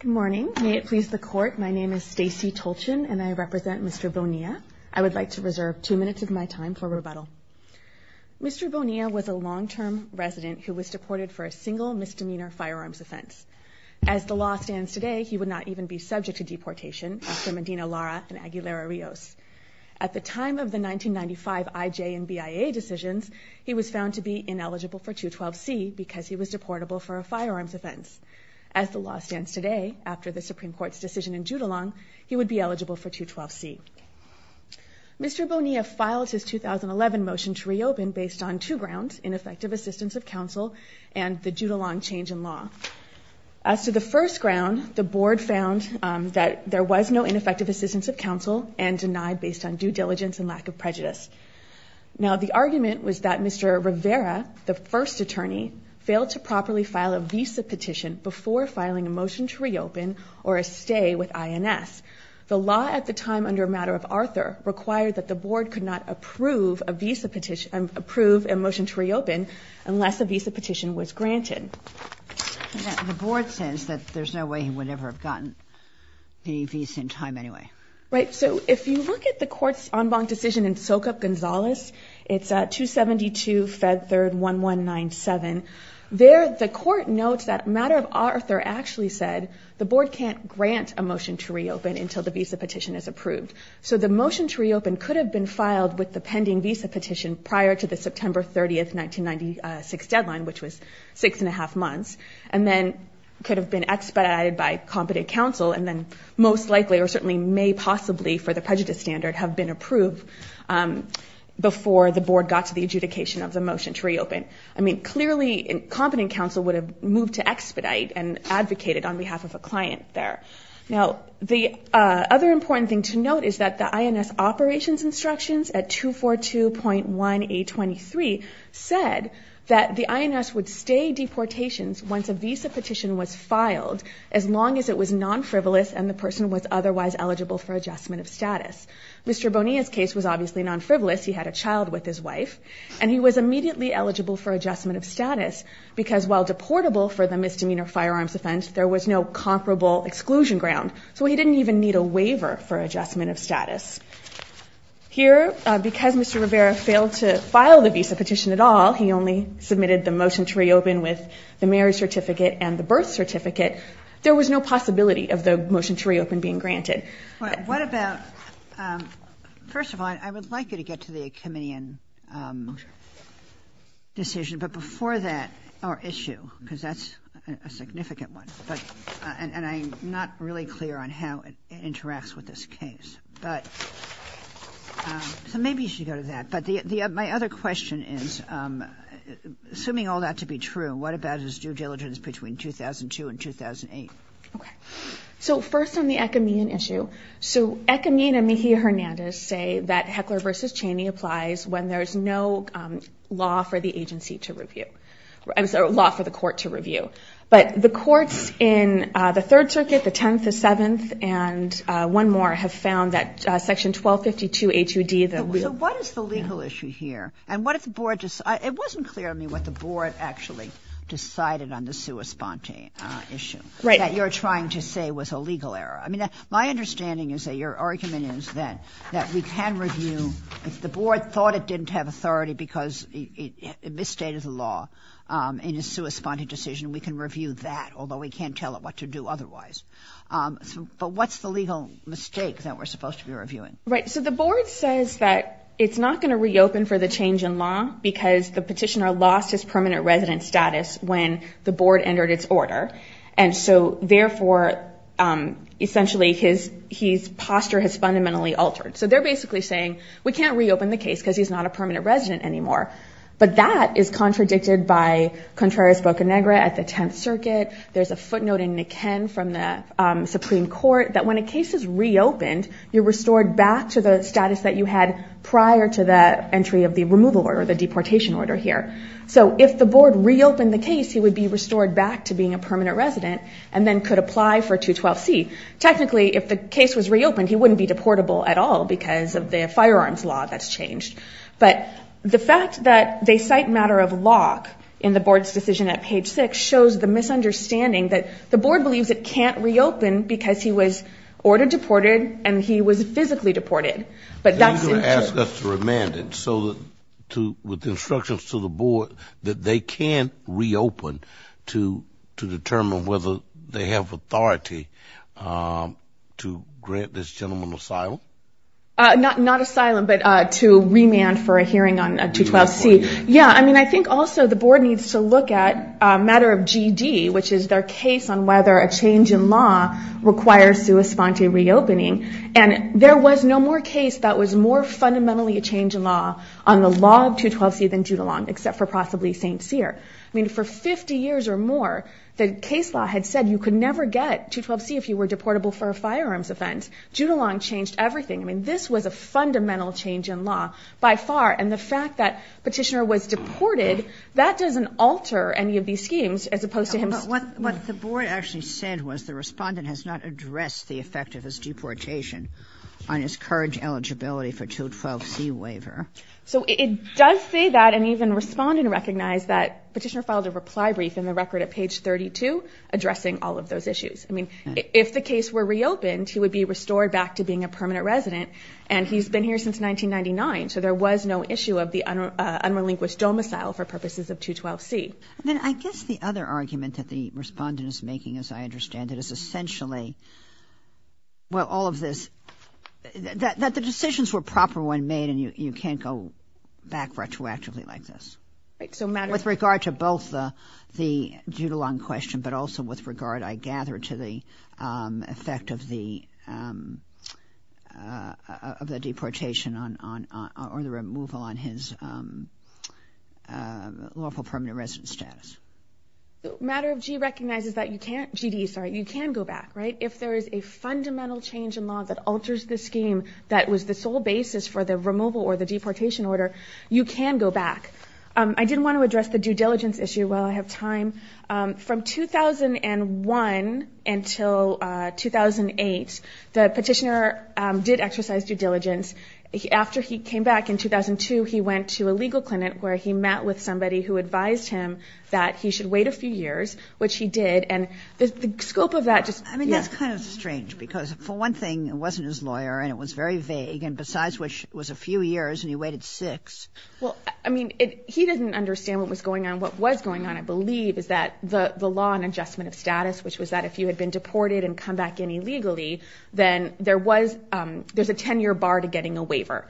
Good morning. May it please the Court, my name is Stacey Tolchin and I represent Mr. Bonilla. I would like to reserve two minutes of my time for rebuttal. Mr. Bonilla was a long-term resident who was deported for a single misdemeanor firearms offense. As the law stands today, he would not even be subject to deportation after Medina Lara and Aguilera Rios. At the time of the 1995 IJ and BIA decisions, he was found to be ineligible for 212C because he was deportable for a firearms offense. As the law stands today, after the Supreme Court's decision in Judulon, he would be eligible for 212C. Mr. Bonilla filed his 2011 motion to reopen based on two grounds, ineffective assistance of counsel and the Judulon change in law. As to the first ground, the board found that there was no ineffective assistance of counsel and denied based on due diligence and lack of prejudice. Now the argument was that Mr. Rivera, the first attorney, failed to properly file a visa petition before filing a motion to reopen or a stay with INS. The law at the time under a matter of Arthur required that the board could not approve a visa petition, approve a motion to reopen unless a visa petition was granted. The board says that there's no way he would ever have gotten a visa in time anyway. Right. So if you look at the court's en banc decision in Sokup-Gonzalez, it's 272 Fed 3rd 1197. There, the court notes that a matter of Arthur actually said the board can't grant a motion to reopen until the visa petition is approved. So the motion to reopen could have been filed with the pending visa petition prior to the September 30th, 1996 deadline, which was six and a half months, and then could have been expedited by competent counsel. And then most likely or certainly may possibly for the prejudice standard have been approved before the board got to the adjudication of the motion to reopen. I mean, clearly competent counsel would have moved to expedite and advocated on behalf of a client there. Now, the other important thing to note is that the INS operations instructions at 242.1823 said that the INS would stay deportations once a visa petition was filed, as long as it was non-frivolous and the person was otherwise eligible for adjustment of status. Mr. Bonilla's case was obviously non-frivolous. He had a child with his wife, and he was immediately eligible for adjustment of status because while deportable for the misdemeanor firearms offense, there was no comparable exclusion ground. So he didn't even need a waiver for adjustment of status. Here, because Mr. Rivera failed to file the visa petition at all, he only submitted the motion to reopen with the marriage certificate and the birth certificate, there was no possibility of the motion to reopen being granted. What about, first of all, I would like you to get to the Achimian decision, but before that, our issue, because that's a significant one, and I'm not really clear on how it interacts with this case. So maybe you should go to that. But my other question is, assuming all that to be true, what about his due diligence between 2002 and 2008? So first on the Achimian issue, so Achimian and Mejia-Hernandez say that Heckler v. Cheney applies when there's no law for the agency to review, I'm sorry, law for the court to review. But the courts in the Third Circuit, the Tenth, the Seventh, and one more have found that Section 1252 H.U.D. So what is the legal issue here? And what if the board, it wasn't clear to me what the board actually decided on the sua sponte issue that you're trying to say was a legal error. I mean, my understanding is that your argument is that we can review, if the board thought it didn't have authority because it misstated the law in a sua sponte decision, we can review that, although we can't tell it what to do otherwise. But what's the legal mistake that we're supposed to be reviewing? Right. So the board says that it's not going to reopen for the change in law because the petitioner lost his permanent resident status when the board entered its order. And so therefore, essentially, his posture has fundamentally altered. So they're basically saying, we can't reopen the case because he's not a permanent resident anymore. But that is contradicted by Contreras-Boca Negra at the Tenth Circuit. There's a footnote in Niken from the Supreme Court that when a case is reopened, you're restored back to the status that you had prior to the entry of the removal order, the deportation order here. So if the board reopened the case, he would be restored back to being a permanent resident and then could apply for 212C. Technically, if the case was reopened, he wouldn't be deportable at all because of the firearms law that's changed. But the fact that they cite matter of lock in the board's decision at page six shows the misunderstanding that the board believes it can't reopen because he was ordered deported and he was physically deported. But he's going to ask us to remand it. So with instructions to the board that they can't they have authority to grant this gentleman asylum? Not asylum, but to remand for a hearing on 212C. Yeah, I mean, I think also the board needs to look at a matter of GD, which is their case on whether a change in law requires sua sponte reopening. And there was no more case that was more fundamentally a change in law on the law of 212C than Jutuland, except for possibly St. Cyr. I mean, for 50 years or more, the case law had said you could never get 212C if you were deportable for a firearms offense. Jutuland changed everything. I mean, this was a fundamental change in law by far. And the fact that Petitioner was deported, that doesn't alter any of these schemes as opposed to him. But what the board actually said was the respondent has not addressed the effect of his deportation on his current eligibility for 212C waiver. So it does say that and even respondent recognized that Petitioner filed a reply brief in the record at page 32 addressing all of those issues. I mean, if the case were reopened, he would be restored back to being a permanent resident. And he's been here since 1999. So there was no issue of the unrelinquished domicile for purposes of 212C. Then I guess the other argument that the respondent is making, as I understand it, is essentially well all of this that the decisions were proper when made and you can't go back retroactively like this. With regard to both the Jutuland question but also with regard, I gather, to the effect of the deportation or the removal on his lawful permanent resident status. Matter of G recognizes that you can't, GD, sorry, you can go back, right? If there is a fundamental change in law that alters the scheme that was the sole basis for the removal or the deportation order, you can go back. I did want to address the due diligence issue while I have time. From 2001 until 2008, the Petitioner did exercise due diligence. After he came back in 2002, he went to a legal clinic where he met with somebody who advised him that he should wait a few years, which he did. And the scope of that just, yeah. I mean, that's kind of strange because for one thing, it wasn't his lawyer and it was very vague. And besides which, it was a few years and he waited six. Well, I mean, he didn't understand what was going on. What was going on, I believe, is that the law on adjustment of status, which was that if you had been deported and come back in illegally, then there was, there's a 10-year bar to getting a waiver.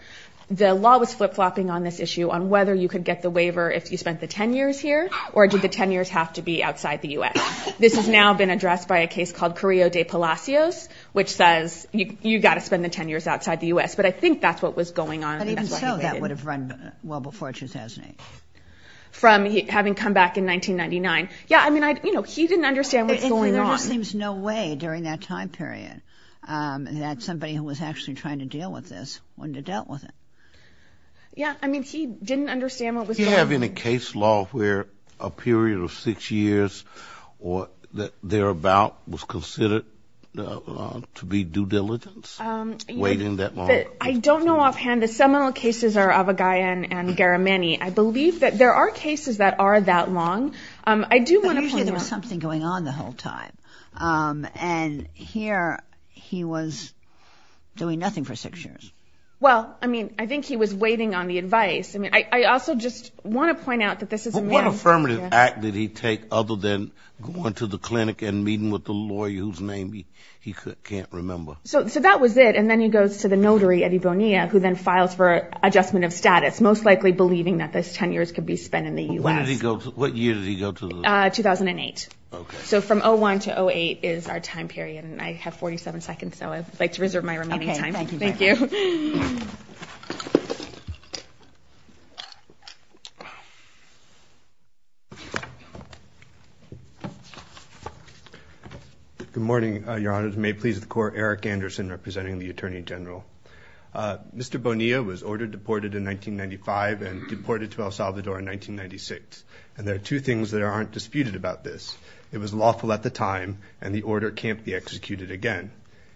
The law was flip-flopping on this issue on whether you could get the waiver if you spent the 10 years here or did the 10 years have to be outside the U.S. This has now been addressed by a case called Carrillo de Palacios, which says you've got to spend the 10 years outside the U.S. But I think that's what was going on. But even so, that would have run well before 2008. From having come back in 1999. Yeah, I mean, I, you know, he didn't understand what's going on. There just seems no way during that time period that somebody who was actually trying to deal with this wouldn't have dealt with it. Yeah, I mean, he didn't understand what was going on. Do we have any case law where a period of six years or thereabout was considered to be due diligence, waiting that long? I don't know offhand. The seminal cases are Avogadro and Garamani. I believe that there are cases that are that long. I do want to point out... But usually there was something going on the whole time. And here he was doing nothing for six years. Well, I mean, I think he was waiting on the advice. I mean, I also just want to point out that this is a man... But what affirmative act did he take other than going to the clinic and meeting with the lawyer whose name he can't remember? So that was it. And then he goes to the notary, Eddie Bonilla, who then files for adjustment of status, most likely believing that those 10 years could be spent in the U.S. What year did he go to the... 2008. So from 01 to 08 is our time period. And I have 47 seconds, so I'd like to reserve my remaining time. Thank you. Good morning, Your Honors. May it please the Court, Eric Anderson representing the Attorney General. Mr. Bonilla was ordered deported in 1995 and deported to El Salvador in 1996. And there are two things that aren't disputed about this. It was lawful at the time, and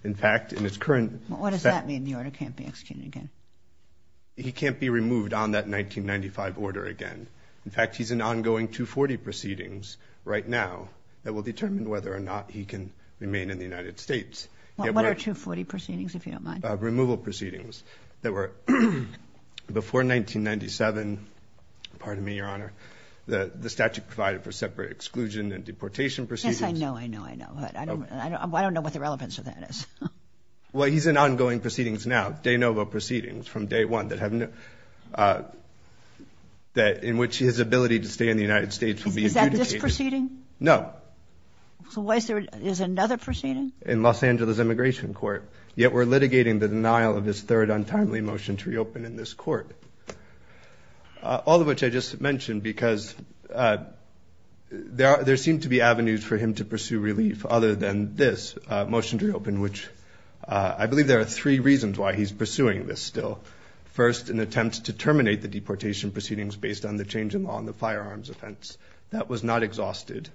in fact, in its current... What does that mean, the order can't be executed again? He can't be removed on that 1995 order again. In fact, he's in ongoing 240 proceedings right now that will determine whether or not he can remain in the United States. What are 240 proceedings, if you don't mind? Removal proceedings that were before 1997, pardon me, Your Honor, the statute provided for separate exclusion and deportation proceedings. Yes, I know, I know, I know, but I don't know what the relevance of that is. Well, he's in ongoing proceedings now, de novo proceedings from day one that have no... in which his ability to stay in the United States will be adjudicated. Is that this proceeding? No. So why is there... is another proceeding? In Los Angeles Immigration Court. Yet we're litigating the denial of his third untimely motion to reopen in this court. All of which I just mentioned because there seem to be two or three reasons why he's pursuing this still. First, an attempt to terminate the deportation proceedings based on the change in law on the firearms offense. That was not exhausted.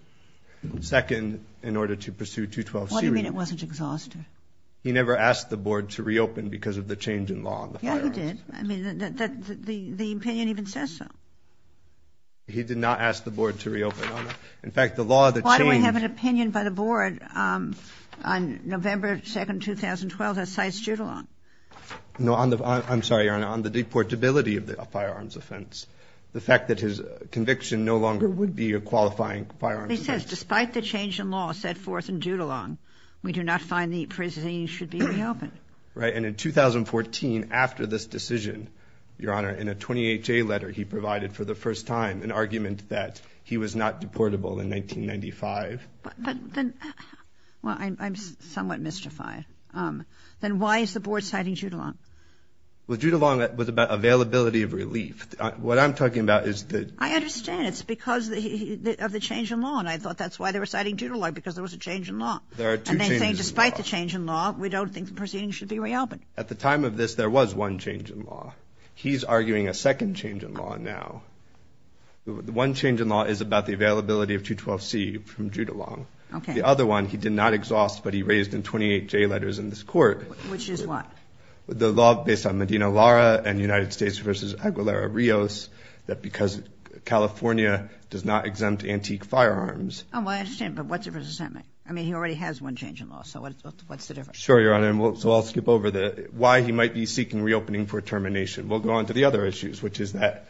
Second, in order to pursue 212C... What do you mean it wasn't exhausted? He never asked the Board to reopen because of the change in law on the firearms. Yeah, he did. I mean, the opinion even says so. He did not ask the Board to reopen, Your Honor. In fact, the law that changed... The opinion by the Board on November 2nd, 2012, that cites Judulong. No, on the... I'm sorry, Your Honor. On the deportability of the firearms offense. The fact that his conviction no longer would be a qualifying firearms offense. He says despite the change in law set forth in Judulong, we do not find the proceedings should be reopened. Right. And in 2014, after this decision, Your Honor, in a 20HA letter he provided for the first time an argument that he was not deportable in 1995. But then... Well, I'm somewhat mystified. Then why is the Board citing Judulong? Well, Judulong was about availability of relief. What I'm talking about is that... I understand. It's because of the change in law. And I thought that's why they were citing Judulong, because there was a change in law. There are two changes in law. And they're saying despite the change in law, we don't think the proceedings should be reopened. At the time of this, there was one change in law. He's arguing a second change in law now. The one change in law is about the availability of 212C from Judulong. The other one, he did not exhaust, but he raised in 28J letters in this court... Which is what? The law based on Medina-Lara and United States v. Aguilera-Rios that because California does not exempt antique firearms... Oh, well, I understand. But what's the difference? I mean, he already has one change in law. So what's the difference? Sure, Your Honor. So I'll skip over why he might be seeking reopening for termination. We'll go on to the other issues, which is that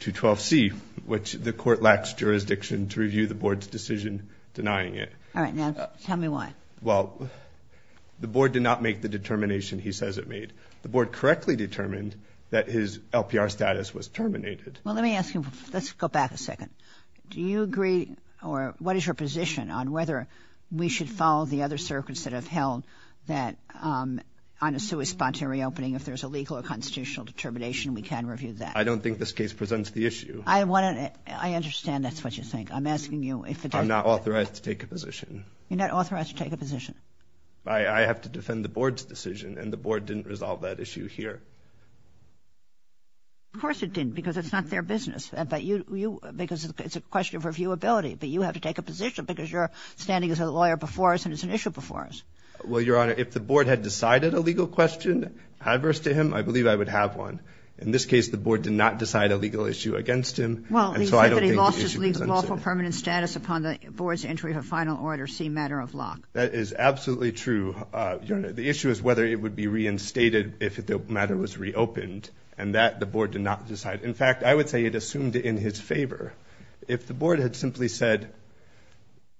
212C, which the court lacks jurisdiction to review the board's decision denying it. All right. Now tell me why. Well, the board did not make the determination he says it made. The board correctly determined that his LPR status was terminated. Well, let me ask you. Let's go back a second. Do you agree or what is your position on whether we should follow the other circuits that have held that on a sui spontanea reopening, if there's a legal or constitutional determination, we can review that? I don't think this case presents the issue. I understand that's what you think. I'm asking you if... I'm not authorized to take a position. You're not authorized to take a position? I have to defend the board's decision, and the board didn't resolve that issue here. Of course it didn't, because it's not their business, because it's a question of reviewability. But you have to take a position because you're standing as a lawyer before us, and it's an issue before us. Well, Your Honor, if the board had decided a legal question adverse to him, I believe I would have one. In this case, the board did not decide a legal issue against him. Well, he said that he lost his lawful permanent status upon the board's entry of a final order C, matter of lock. That is absolutely true, Your Honor. The issue is whether it would be reinstated if the matter was reopened, and that the board did not decide. In fact, I would say it assumed in his favor. If the board had simply said,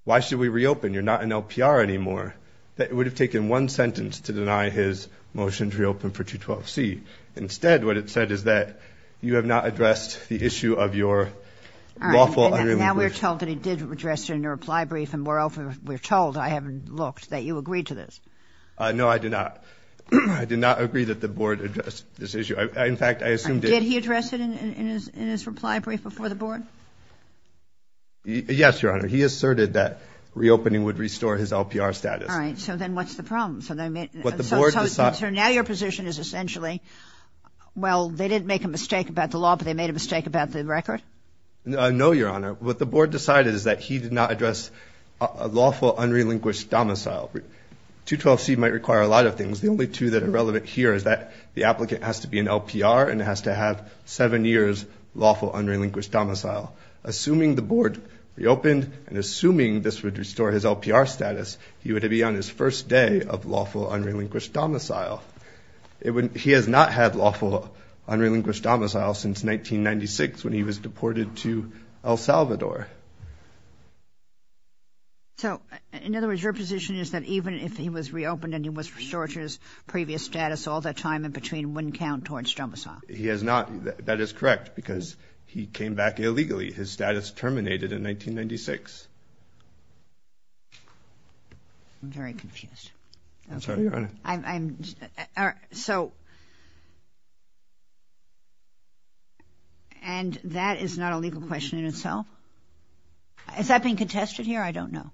why should we reopen, you're not an LPR anymore, that it would have taken one sentence to deny his motion to reopen for 212C. Instead, what it said is that you have not addressed the issue of your lawful unruly position. Now we're told that he did address it in a reply brief, and we're told, I haven't looked, that you agreed to this. No, I did not. I did not agree that the board addressed this issue. In fact, I assumed it. Did he address it in his reply brief before the board? Yes, Your Honor. He asserted that reopening would restore his LPR status. All right. So then what's the problem? So now your position is essentially, well, they didn't make a mistake about the law, but they made a mistake about the record? No, Your Honor. What the board decided is that he did not address a lawful, unrelinquished domicile. 212C might require a lot of things. The only two that are relevant here is that the applicant has to be an LPR and has to have seven years lawful, unrelinquished domicile. Assuming the board reopened and assuming this would restore his LPR status, he would be on his first day of lawful, unrelinquished domicile. He has not had lawful, unrelinquished domicile since 1996 when he was deported to El Salvador. So, in other words, your position is that even if he was reopened and he was restored to his previous status, all that time in between wouldn't count towards domicile? He has not. That is correct because he came back illegally. His status terminated in 1996. I'm sorry, Your Honor. So, and that is not a legal question in itself? Is that being contested here? I don't know.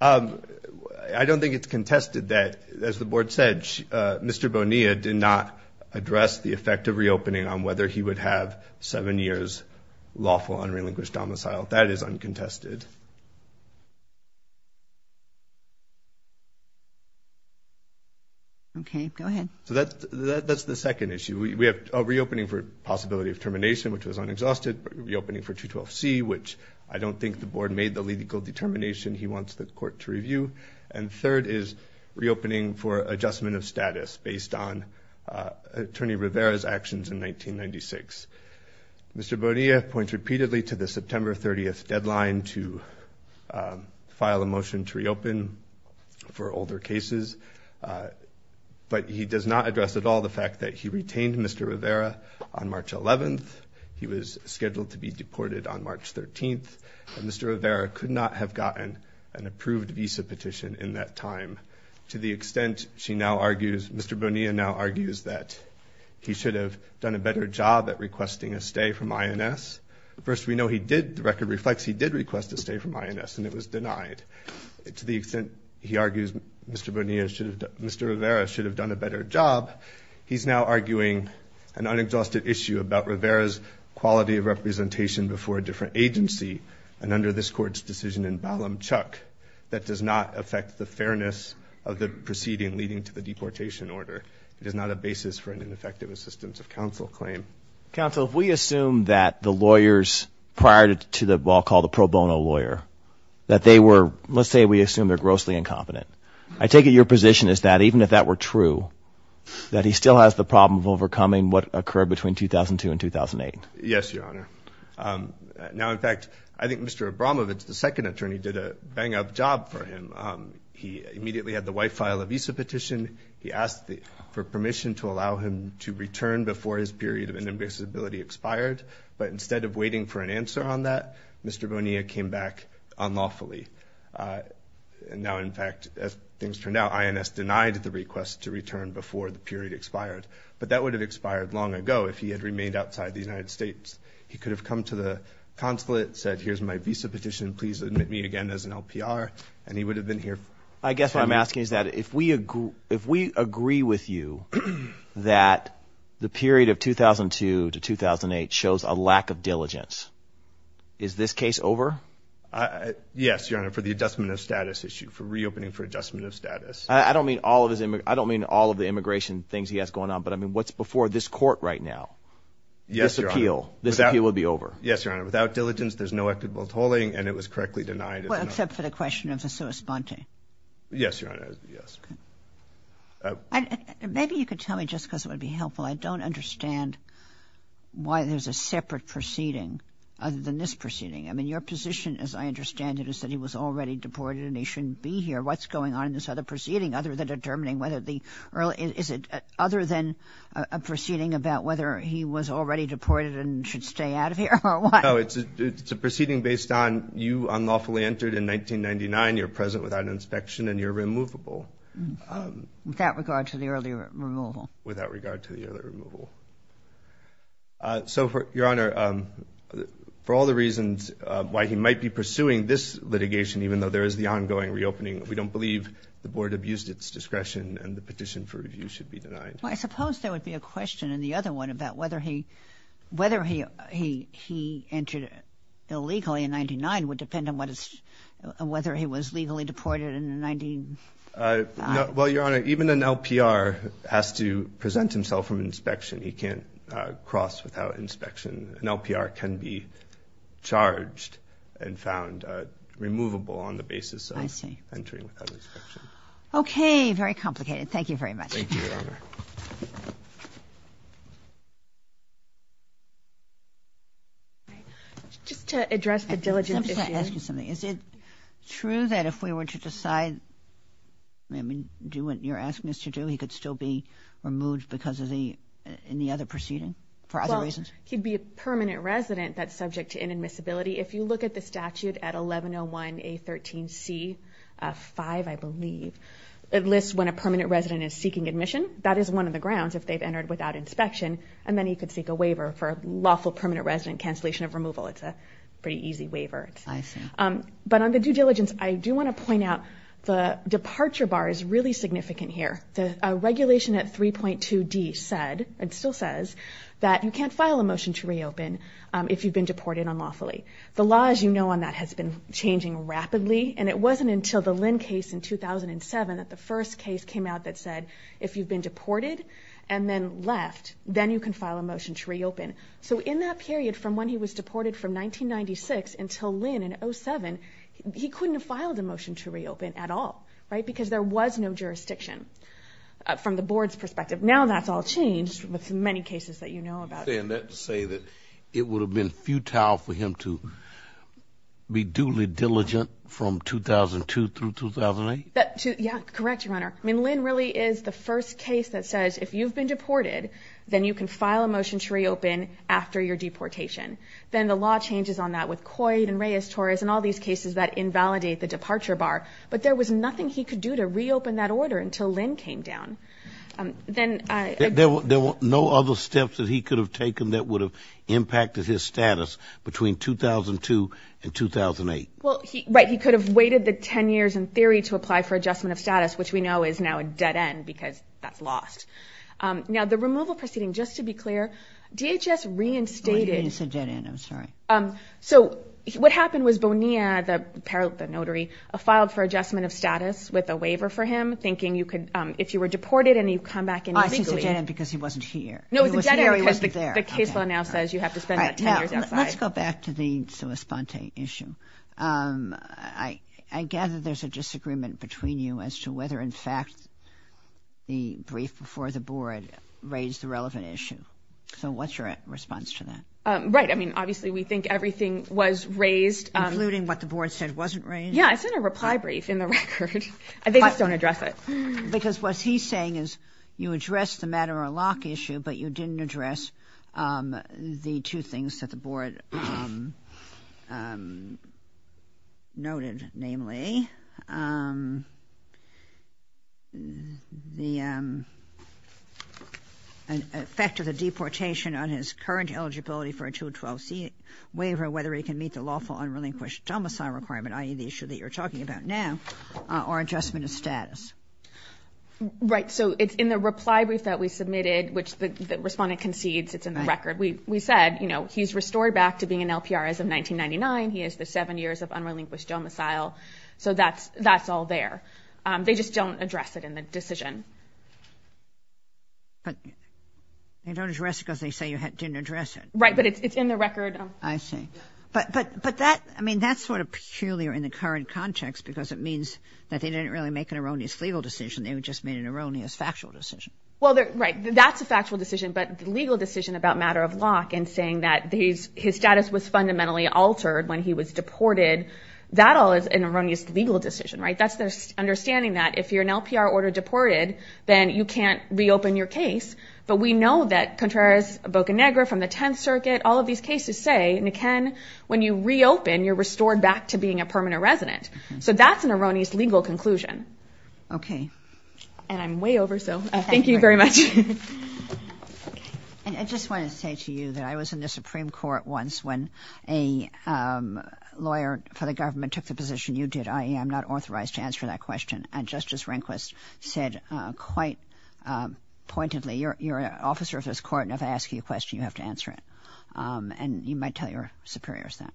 I don't think it's contested that, as the board said, Mr. Bonilla did not address the effect of reopening on whether he would have seven years lawful, unrelinquished domicile. That is uncontested. Okay, go ahead. So, that's the second issue. We have reopening for possibility of termination, which was unexhausted, reopening for 212C, which I don't think the board made the legal determination he wants the court to review, and third is reopening for adjustment of status based on Attorney Rivera's actions in 1996. Mr. Bonilla points repeatedly to the September 30th deadline to file a motion to reopen for older cases, but he does not address at all the fact that he retained Mr. Rivera on March 11th. He was scheduled to be deported on March 13th, and Mr. Rivera could not have gotten an approved visa petition in that time. To the extent she now argues, Mr. Bonilla now argues that he should have done a better job at requesting a stay from INS. First, we know he did, the record reflects, he did request a stay from INS, and it was denied. To the extent he argues Mr. Bonilla should have, Mr. Rivera should have done a better job, he's now arguing an unexhausted issue about Rivera's quality of representation before a different agency, and under this court's decision in Ballum, Chuck, that does not affect the fairness of the proceeding leading to the deportation order. It is not a basis for an ineffective assistance of counsel claim. Counsel, if we assume that the lawyers prior to the, what I'll call the pro bono lawyer, that they were, let's say we assume they're grossly incompetent. I take it your position is that even if that were true, that he still has the problem of overcoming what occurred between 2002 and 2008. Yes, Your Honor. Now, in fact, I think Mr. Abramovich, the second attorney, did a bang-up job for him. He immediately had the wife file a visa petition. He asked for permission to allow him to return before his period of inadmissibility expired, but instead of waiting for an answer on that, Mr. Bonilla came back unlawfully. Now, in fact, as things turned out, INS denied the request to return before the period expired, but that would have expired long ago if he had remained outside the United States. He could have come to the consulate, said here's my visa petition, please admit me again as an LPR, and he would have been here. I guess what I'm asking is that if we agree with you that the period of 2002 to 2008 shows a lack of diligence, is this case over? Yes, Your Honor, for the adjustment of status issue, for reopening for adjustment of status. I don't mean all of the immigration things he has going on, but I mean what's before this court right now? Yes, Your Honor. This appeal would be over. Yes, Your Honor. Without diligence, there's no equitable tolling, and it was correctly denied. Well, except for the question of the sua sponte. Yes, Your Honor, yes. Maybe you could tell me, just because it would be helpful, I don't understand why there's a separate proceeding other than this proceeding. I mean, your position, as I understand it, is that he was already deported and he shouldn't be here. What's going on in this other proceeding other than determining whether the early – is it other than a proceeding about whether he was already deported and should stay out of here or what? No, it's a proceeding based on you unlawfully entered in 1999, you're present without inspection, and you're removable. Without regard to the early removal. Without regard to the early removal. So, Your Honor, for all the reasons why he might be pursuing this litigation, even though there is the ongoing reopening, we don't believe the board abused its discretion and the petition for review should be denied. Well, I suppose there would be a question in the other one about whether he – whether he entered illegally in 1999 would depend on whether he was legally deported in the 19 – Well, Your Honor, even an LPR has to present himself from inspection. He can't cross without inspection. An LPR can be charged and found removable on the basis of entering without inspection. Okay. Very complicated. Thank you very much. Thank you, Your Honor. Just to address the diligence issue. Is it true that if we were to decide – I mean, do what you're asking us to do, he could still be removed because of the – in the other proceeding for other reasons? Well, he'd be a permanent resident that's subject to inadmissibility. If you look at the statute at 1101A13C5, I believe, it lists when a permanent resident is seeking admission. That is one of the grounds if they've entered without inspection, and then he could seek a waiver for lawful permanent resident cancellation of removal. It's a pretty easy waiver. I see. But on the due diligence, I do want to point out the departure bar is really significant here. The regulation at 3.2D said, and still says, that you can't file a motion to reopen if you've been deported unlawfully. The law, as you know, on that has been changing rapidly, and it wasn't until the Lynn case in 2007 that the first case came out that said, if you've been deported and then left, then you can file a motion to reopen. So in that period from when he was deported from 1996 until Lynn in 2007, he couldn't have filed a motion to reopen at all, right, because there was no jurisdiction from the board's perspective. Now that's all changed with many cases that you know about. You're saying that to say that it would have been futile for him to be duly diligent from 2002 through 2008? Yeah, correct, Your Honor. I mean, Lynn really is the first case that says, if you've been deported, then you can file a motion to reopen after your deportation. Then the law changes on that with Coit and Reyes-Torres and all these cases that invalidate the departure bar. But there was nothing he could do to reopen that order until Lynn came down. There were no other steps that he could have taken that would have impacted his status between 2002 and 2008? Well, right, he could have waited the 10 years in theory to apply for adjustment of status, which we know is now a dead end because that's lost. Now, the removal proceeding, just to be clear, DHS reinstated... Oh, I didn't say dead end. I'm sorry. So what happened was Bonilla, the notary, filed for adjustment of status with a waiver for him, thinking you could, if you were deported and you come back in legally... Ah, she said dead end because he wasn't here. No, it was a dead end because the case law now says you have to spend that 10 years outside. Let's go back to the sua sponte issue. I gather there's a disagreement between you as to whether, in fact, the brief before the board raised the relevant issue. So what's your response to that? Right, I mean, obviously we think everything was raised... Including what the board said wasn't raised? Yeah, it's in a reply brief in the record. They just don't address it. Because what he's saying is you addressed the matter-of-lock issue, but you didn't address the two things that the board noted, namely the effect of the deportation on his current eligibility for a 212C waiver, whether he can meet the lawful unrelinquished domicile requirement, i.e. the issue that you're talking about now, or adjustment of status. Right, so it's in the reply brief that we submitted, which the respondent concedes it's in the record. We said, you know, he's restored back to being an LPR as of 1999. He has the seven years of unrelinquished domicile. So that's all there. They just don't address it in the decision. But they don't address it because they say you didn't address it. Right, but it's in the record. I see. But that, I mean, that's sort of peculiar in the current context because it means that they didn't really make an erroneous legal decision. They just made an erroneous factual decision. Well, right, that's a factual decision. But the legal decision about matter-of-lock and saying that his status was fundamentally altered when he was deported, that all is an erroneous legal decision, right? That's the understanding that if you're an LPR order deported, then you can't reopen your case. But we know that Contreras, Boca Negra from the Tenth Circuit, all of these cases say, and again, when you reopen, you're restored back to being a permanent resident. So that's an erroneous legal conclusion. Okay. And I'm way over, so thank you very much. I just wanted to say to you that I was in the Supreme Court once when a lawyer for the government took the position you did, i.e., I'm not authorized to answer that question, and Justice Rehnquist said quite pointedly, you're an officer of this court, and if I ask you a question, you have to answer it. And you might tell your superiors that.